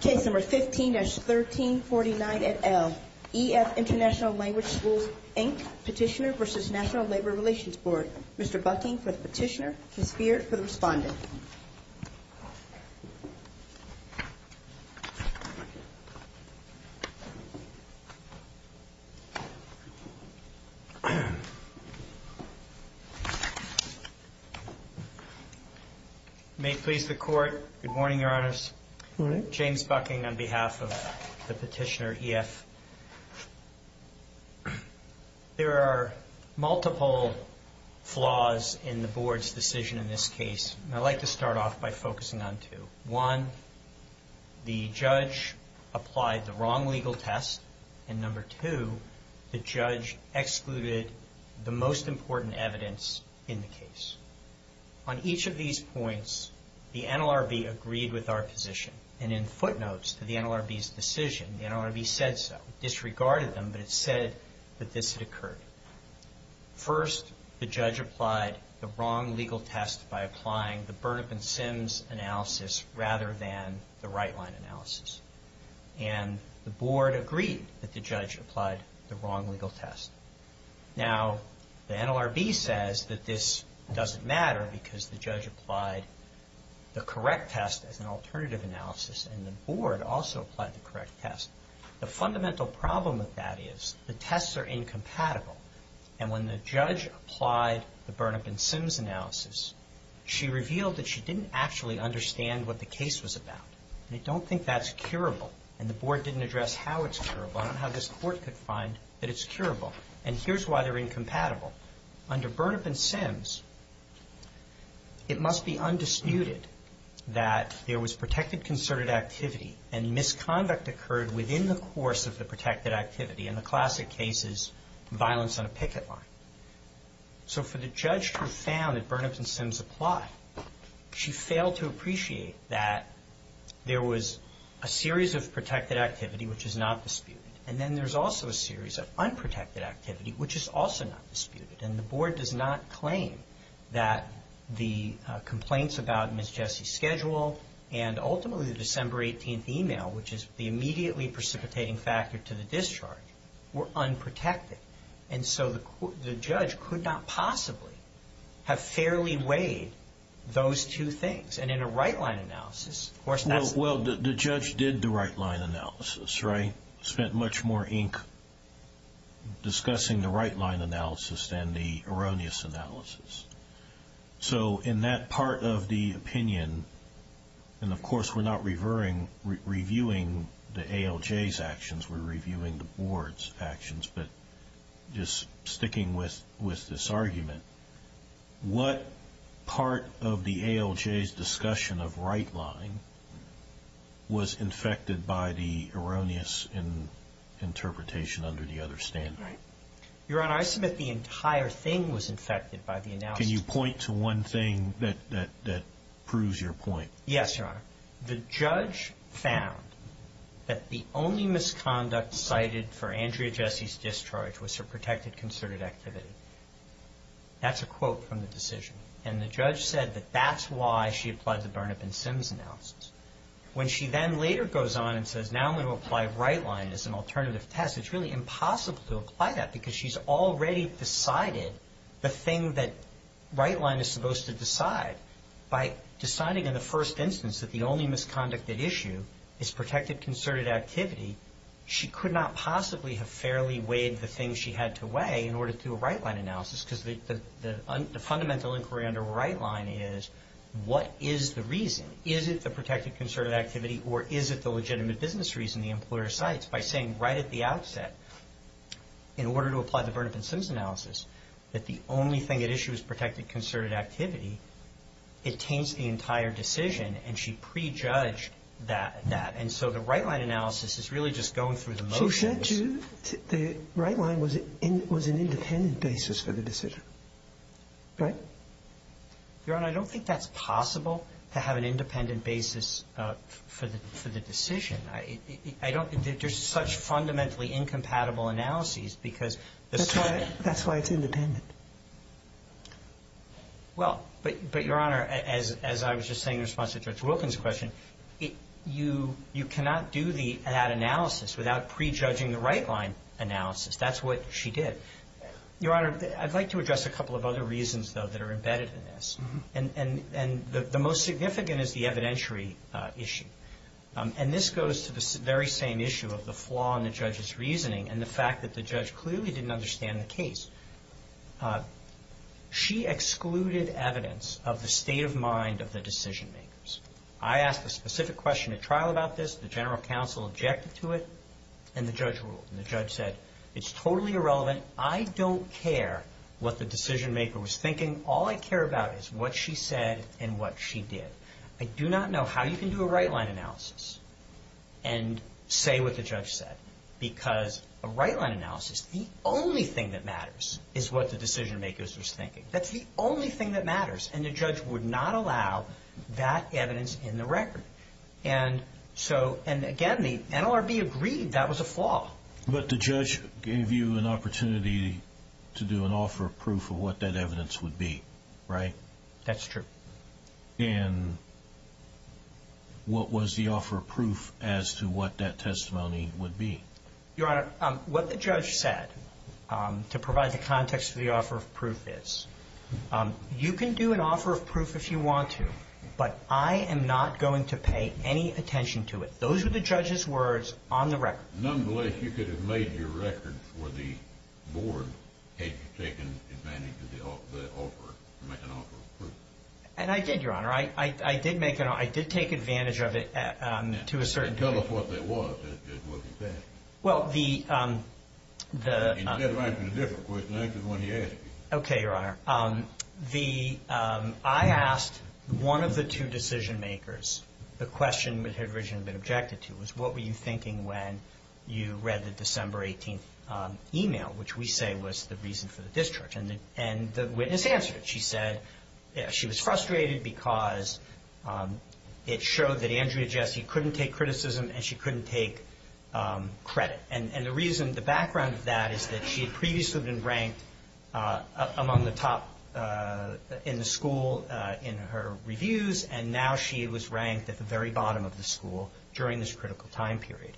Case No. 15-1349 et al. EF International Lang. Schools, Inc. Petitioner v. National Labor Relations Board Mr. Bucking for the petitioner, Ms. Feard for the respondent Mr. Bucking on behalf of the petitioner, EF. There are multiple flaws in the board's decision in this case. I'd like to start off by focusing on two. One, the judge applied the wrong legal test. And number two, the judge excluded the most important evidence in the case. On each of these points, the NLRB agreed with our position. And in footnotes to the NLRB's decision, the NLRB said so. It disregarded them, but it said that this had occurred. First, the judge applied the wrong legal test by applying the Burnap and Sims analysis rather than the right-line analysis. And the board agreed that the judge applied the wrong legal test. Now, the NLRB says that this doesn't matter because the judge applied the correct test as an alternative analysis and the board also applied the correct test. The fundamental problem with that is the tests are incompatible. And when the judge applied the Burnap and Sims analysis, she revealed that she didn't actually understand what the case was about. They don't think that's curable. And the board didn't address how it's curable. I don't know how this court could find that it's curable. And here's why they're incompatible. Under Burnap and Sims, it must be undisputed that there was protected concerted activity and misconduct occurred within the course of the protected activity. And the classic case is violence on a picket line. So for the judge who found that Burnap and Sims apply, she failed to appreciate that there was a series of protected activity which is not disputed. And then there's also a series of unprotected activity which is also not disputed. And the board does not claim that the complaints about Ms. Jessie's schedule and ultimately the December 18th email, which is the immediately precipitating factor to the discharge, were unprotected. And so the judge could not possibly have fairly weighed those two things. And in a right-line analysis, of course, that's... Well, the judge did the right-line analysis, right? Spent much more ink discussing the right-line analysis than the erroneous analysis. So in that part of the opinion, and of course we're not reviewing the ALJ's actions, we're reviewing the board's actions, but just sticking with this argument, what part of the ALJ's discussion of right-line was infected by the erroneous interpretation under the other standard? Your Honor, I submit the entire thing was infected by the analysis. Can you point to one thing that proves your point? Yes, Your Honor. The judge found that the only misconduct cited for Andrea Jessie's discharge was her protected concerted activity. That's a quote from the decision. And the judge said that that's why she applied the Burnap and Sims analysis. When she then later goes on and says, now I'm going to apply right-line as an alternative test, it's really impossible to apply that, because she's already decided the thing that right-line is supposed to decide. By deciding in the first instance that the only misconduct at issue is protected concerted activity, she could not possibly have fairly weighed the things she had to weigh in order to do a right-line analysis, because the fundamental inquiry under right-line is, what is the reason? Is it the protected concerted activity, or is it the legitimate business reason the employer cites? By saying right at the outset, in order to apply the Burnap and Sims analysis, that the only thing at issue is protected concerted activity, it taints the entire decision, and she prejudged that. And so the right-line analysis is really just going through the motions. The right-line was an independent basis for the decision, right? Your Honor, I don't think that's possible, to have an independent basis for the decision. I don't think there's such fundamentally incompatible analyses, because that's why it's independent. Well, but, Your Honor, as I was just saying in response to Judge Wilkins' question, you cannot do that analysis without prejudging the right-line analysis. That's what she did. Your Honor, I'd like to address a couple of other reasons, though, that are embedded in this. And the most significant is the evidentiary issue. And this goes to the very same issue of the flaw in the judge's reasoning and the fact that the judge clearly didn't understand the case. She excluded evidence of the state of mind of the decision-makers. I asked a specific question at trial about this. The general counsel objected to it, and the judge ruled. And the judge said, it's totally irrelevant. I don't care what the decision-maker was thinking. All I care about is what she said and what she did. I do not know how you can do a right-line analysis and say what the judge said, because a right-line analysis, the only thing that matters is what the decision-makers was thinking. That's the only thing that matters. And the judge would not allow that evidence in the record. And, again, the NLRB agreed that was a flaw. But the judge gave you an opportunity to do an offer of proof of what that evidence would be, right? That's true. And what was the offer of proof as to what that testimony would be? Your Honor, what the judge said, to provide the context of the offer of proof, is you can do an offer of proof if you want to, but I am not going to pay any attention to it. Those were the judge's words on the record. Nonetheless, you could have made your record for the board had you taken advantage of the offer, to make an offer of proof. And I did, Your Honor. I did make an offer. I did take advantage of it to a certain degree. Tell us what that was. What was that? Well, the- Instead of answering a different question, answer the one he asked you. Okay, Your Honor. I asked one of the two decision-makers the question that had originally been objected to, was what were you thinking when you read the December 18th email, which we say was the reason for the discharge. And the witness answered it. She said she was frustrated because it showed that Andrea Jessie couldn't take criticism and she couldn't take credit. And the reason, the background of that is that she had previously been ranked among the top in the school in her reviews, and now she was ranked at the very bottom of the school during this critical time period.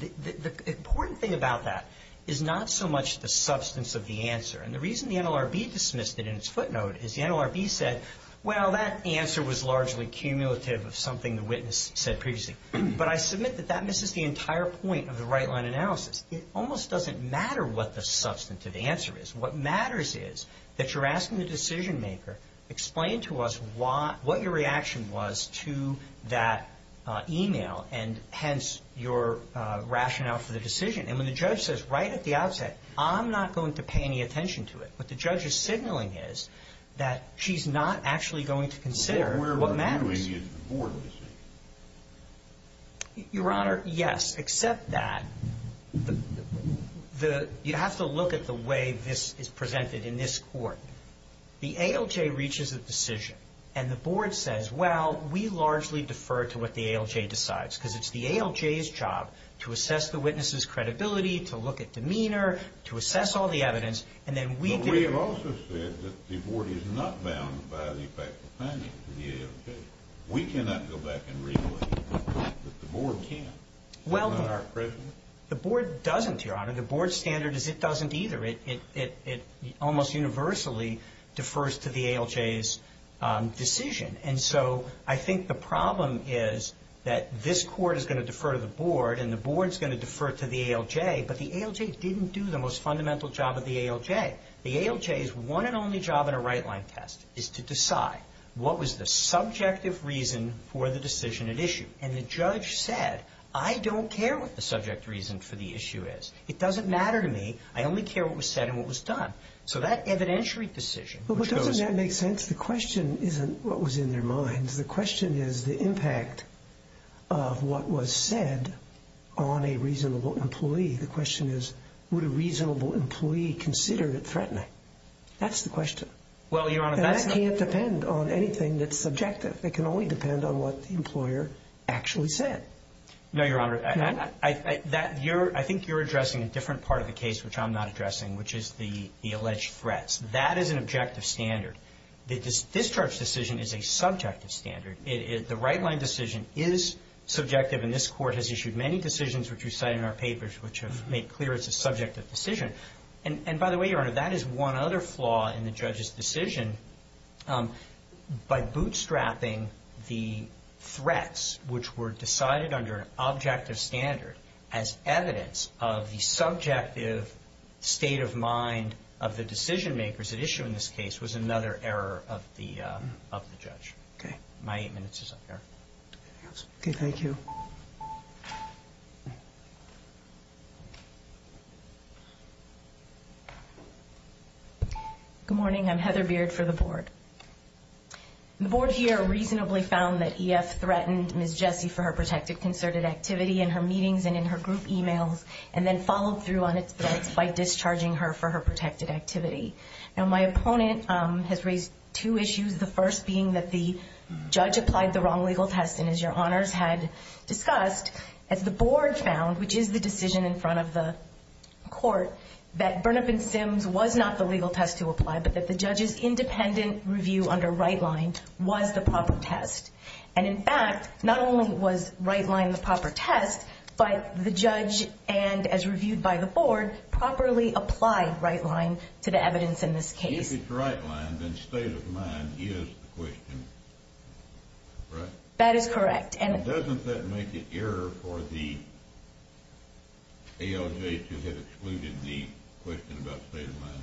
The important thing about that is not so much the substance of the answer. And the reason the NLRB dismissed it in its footnote is the NLRB said, well, that answer was largely cumulative of something the witness said previously. But I submit that that misses the entire point of the right-line analysis. It almost doesn't matter what the substantive answer is. What matters is that you're asking the decision-maker, explain to us what your reaction was to that email, and hence your rationale for the decision. And when the judge says right at the outset, I'm not going to pay any attention to it, what the judge is signaling is that she's not actually going to consider what matters. Why do we need the board decision? Your Honor, yes, except that you have to look at the way this is presented in this court. The ALJ reaches a decision, and the board says, well, we largely defer to what the ALJ decides because it's the ALJ's job to assess the witness's credibility, to look at demeanor, to assess all the evidence, But we have also said that the board is not bound by the effect of penalty to the ALJ. We cannot go back and reclaim that the board can't. Well, the board doesn't, Your Honor. The board's standard is it doesn't either. It almost universally defers to the ALJ's decision. And so I think the problem is that this court is going to defer to the board, and the board is going to defer to the ALJ, but the ALJ didn't do the most fundamental job of the ALJ. The ALJ's one and only job in a right-line test is to decide what was the subjective reason for the decision at issue. And the judge said, I don't care what the subject reason for the issue is. It doesn't matter to me. I only care what was said and what was done. So that evidentiary decision, which goes to the board, Well, doesn't that make sense? The question isn't what was in their minds. The question is the impact of what was said on a reasonable employee. The question is, would a reasonable employee consider it threatening? That's the question. Well, Your Honor, that's not And that can't depend on anything that's subjective. It can only depend on what the employer actually said. No, Your Honor. No? I think you're addressing a different part of the case which I'm not addressing, which is the alleged threats. That is an objective standard. The discharge decision is a subjective standard. The right-line decision is subjective, and this Court has issued many decisions which we've cited in our papers which have made clear it's a subjective decision. And, by the way, Your Honor, that is one other flaw in the judge's decision. By bootstrapping the threats which were decided under an objective standard as evidence of the subjective state of mind of the decision makers at issue in this case was another error of the judge. Okay. My eight minutes is up there. Okay, thank you. Good morning. I'm Heather Beard for the Board. The Board here reasonably found that EF threatened Ms. Jessie for her protected concerted activity in her meetings and in her group emails and then followed through on its threats by discharging her for her protected activity. Now, my opponent has raised two issues, the first being that the judge applied the wrong legal test, and as Your Honors had discussed, as the Board found, which is the decision in front of the Court, that Burnap and Sims was not the legal test to apply but that the judge's independent review under right-line was the proper test. And, in fact, not only was right-line the proper test, but the judge and, as reviewed by the Board, properly applied right-line to the evidence in this case. If it's right-line, then state of mind is the question, right? That is correct. And doesn't that make it error for the ALJ to have excluded the question about state of mind?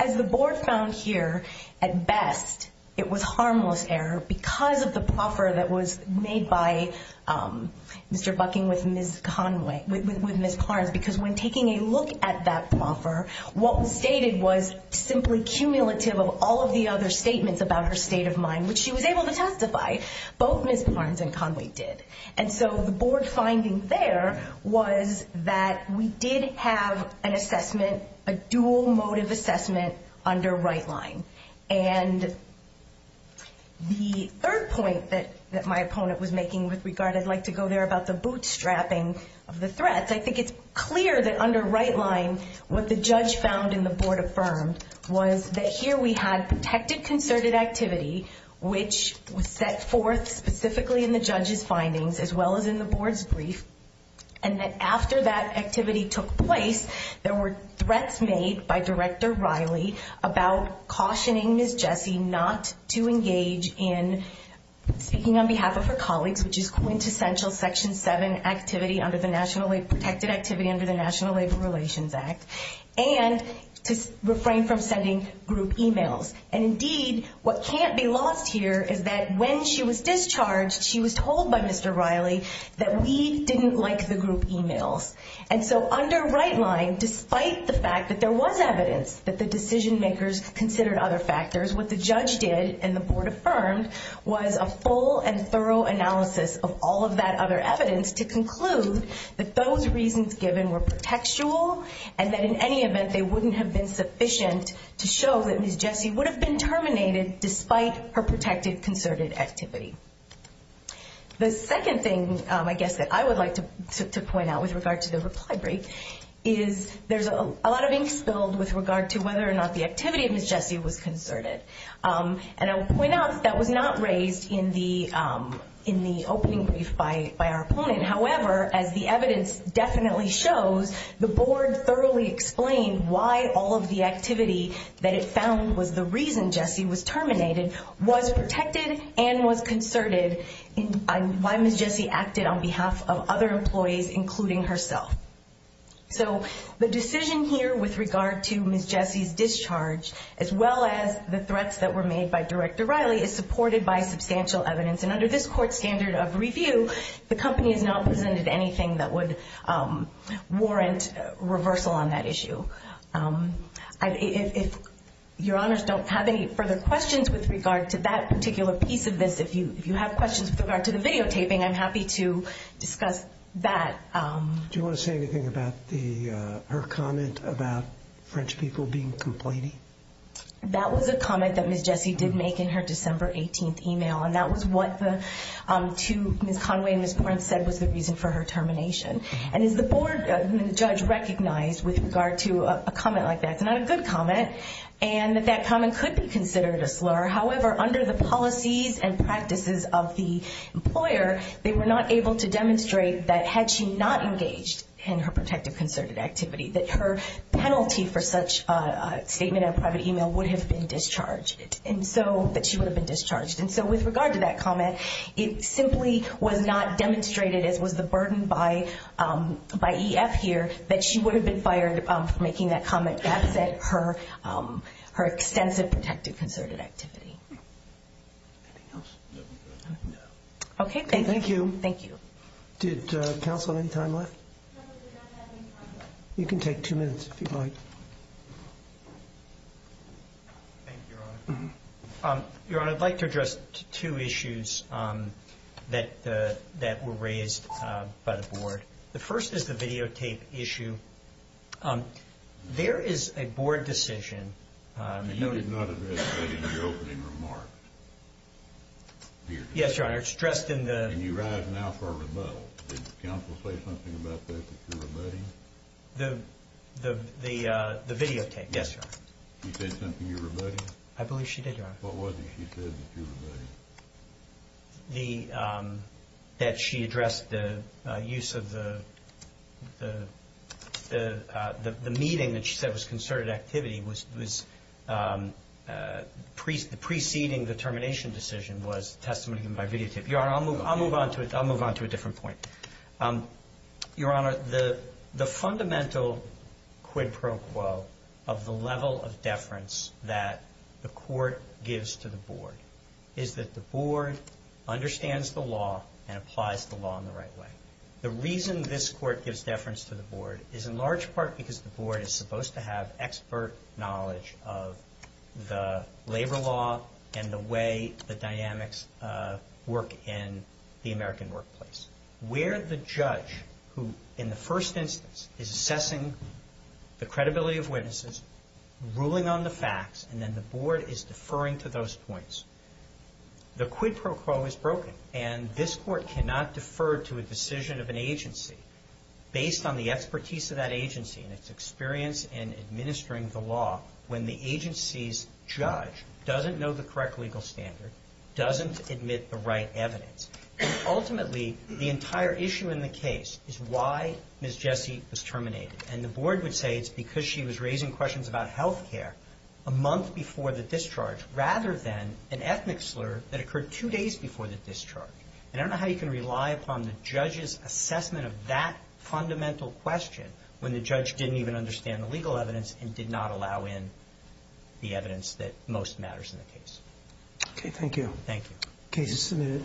As the Board found here, at best, it was harmless error because of the proffer that was made by Mr. Bucking with Ms. Carnes, because when taking a look at that proffer, what was stated was simply cumulative of all of the other statements about her state of mind, which she was able to testify. Both Ms. Carnes and Conway did. And so the Board finding there was that we did have an assessment, a dual motive assessment under right-line. And the third point that my opponent was making with regard, I'd like to go there, about the bootstrapping of the threats, I think it's clear that under right-line, what the judge found and the Board affirmed was that here we had protected concerted activity, which was set forth specifically in the judge's findings as well as in the Board's brief, and that after that activity took place, there were threats made by Director Riley about cautioning Ms. Jessie not to engage in speaking on behalf of her colleagues, which is quintessential Section 7 activity under the National Labor Protected Activity under the National Labor Relations Act, and to refrain from sending group emails. And indeed, what can't be lost here is that when she was discharged, she was told by Mr. Riley that we didn't like the group emails. And so under right-line, despite the fact that there was evidence that the decision-makers considered other factors, what the judge did and the Board affirmed was a full and thorough analysis of all of that other evidence to conclude that those reasons given were protectual and that in any event they wouldn't have been sufficient to show that Ms. Jessie would have been terminated despite her protected concerted activity. The second thing, I guess, that I would like to point out with regard to the reply brief is there's a lot of ink spilled with regard to whether or not the activity of Ms. Jessie was concerted. And I will point out that that was not raised in the opening brief by our opponent. However, as the evidence definitely shows, the Board thoroughly explained why all of the activity that it found was the reason Jessie was terminated was protected and was concerted and why Ms. Jessie acted on behalf of other employees, including herself. So the decision here with regard to Ms. Jessie's discharge, as well as the threats that were made by Director Riley, is supported by substantial evidence. And under this Court's standard of review, the company has not presented anything that would warrant reversal on that issue. If Your Honors don't have any further questions with regard to that particular piece of this, if you have questions with regard to the videotaping, I'm happy to discuss that. Do you want to say anything about her comment about French people being complaining? That was a comment that Ms. Jessie did make in her December 18th email, and that was what Ms. Conway and Ms. Porence said was the reason for her termination. And as the Board and the judge recognized with regard to a comment like that, it's not a good comment, and that that comment could be considered a slur. However, under the policies and practices of the employer, they were not able to demonstrate that had she not engaged in her protective concerted activity, that her penalty for such a statement in a private email would have been discharged, and so that she would have been discharged. And so with regard to that comment, it simply was not demonstrated, as was the burden by EF here, that she would have been fired for making that comment that upset her extensive protective concerted activity. Anything else? Okay, thank you. Did counsel have any time left? No, we do not have any time left. You can take two minutes if you'd like. Thank you, Your Honor. Your Honor, I'd like to address two issues that were raised by the Board. The first is the videotape issue. There is a Board decision... You did not address that in your opening remarks. Yes, Your Honor, it's addressed in the... And you rise now for a rebuttal. Did counsel say something about that that you're rebutting? The videotape. Yes, Your Honor. She said something you're rebutting? I believe she did, Your Honor. What was it she said that you're rebutting? That she addressed the use of the... The meeting that she said was concerted activity was preceding the termination decision was testimony given by videotape. Your Honor, I'll move on to a different point. Your Honor, the fundamental quid pro quo of the level of deference that the Court gives to the Board is that the Board understands the law and applies the law in the right way. The reason this Court gives deference to the Board is in large part because the Board is supposed to have expert knowledge of the labor law and the way the dynamics work in the American workplace. Where the judge who, in the first instance, is assessing the credibility of witnesses, ruling on the facts, and then the Board is deferring to those points, the quid pro quo is broken. And this Court cannot defer to a decision of an agency based on the expertise of that agency and its experience in administering the law when the agency's judge doesn't know the correct legal standard, doesn't admit the right evidence. Ultimately, the entire issue in the case is why Ms. Jessie was terminated. And the Board would say it's because she was raising questions about health care a month before the discharge rather than an ethnic slur that occurred two days before the discharge. And I don't know how you can rely upon the judge's assessment of that fundamental question when the judge didn't even understand the legal evidence and did not allow in the evidence that most matters in the case. Okay, thank you. Thank you. Case is submitted.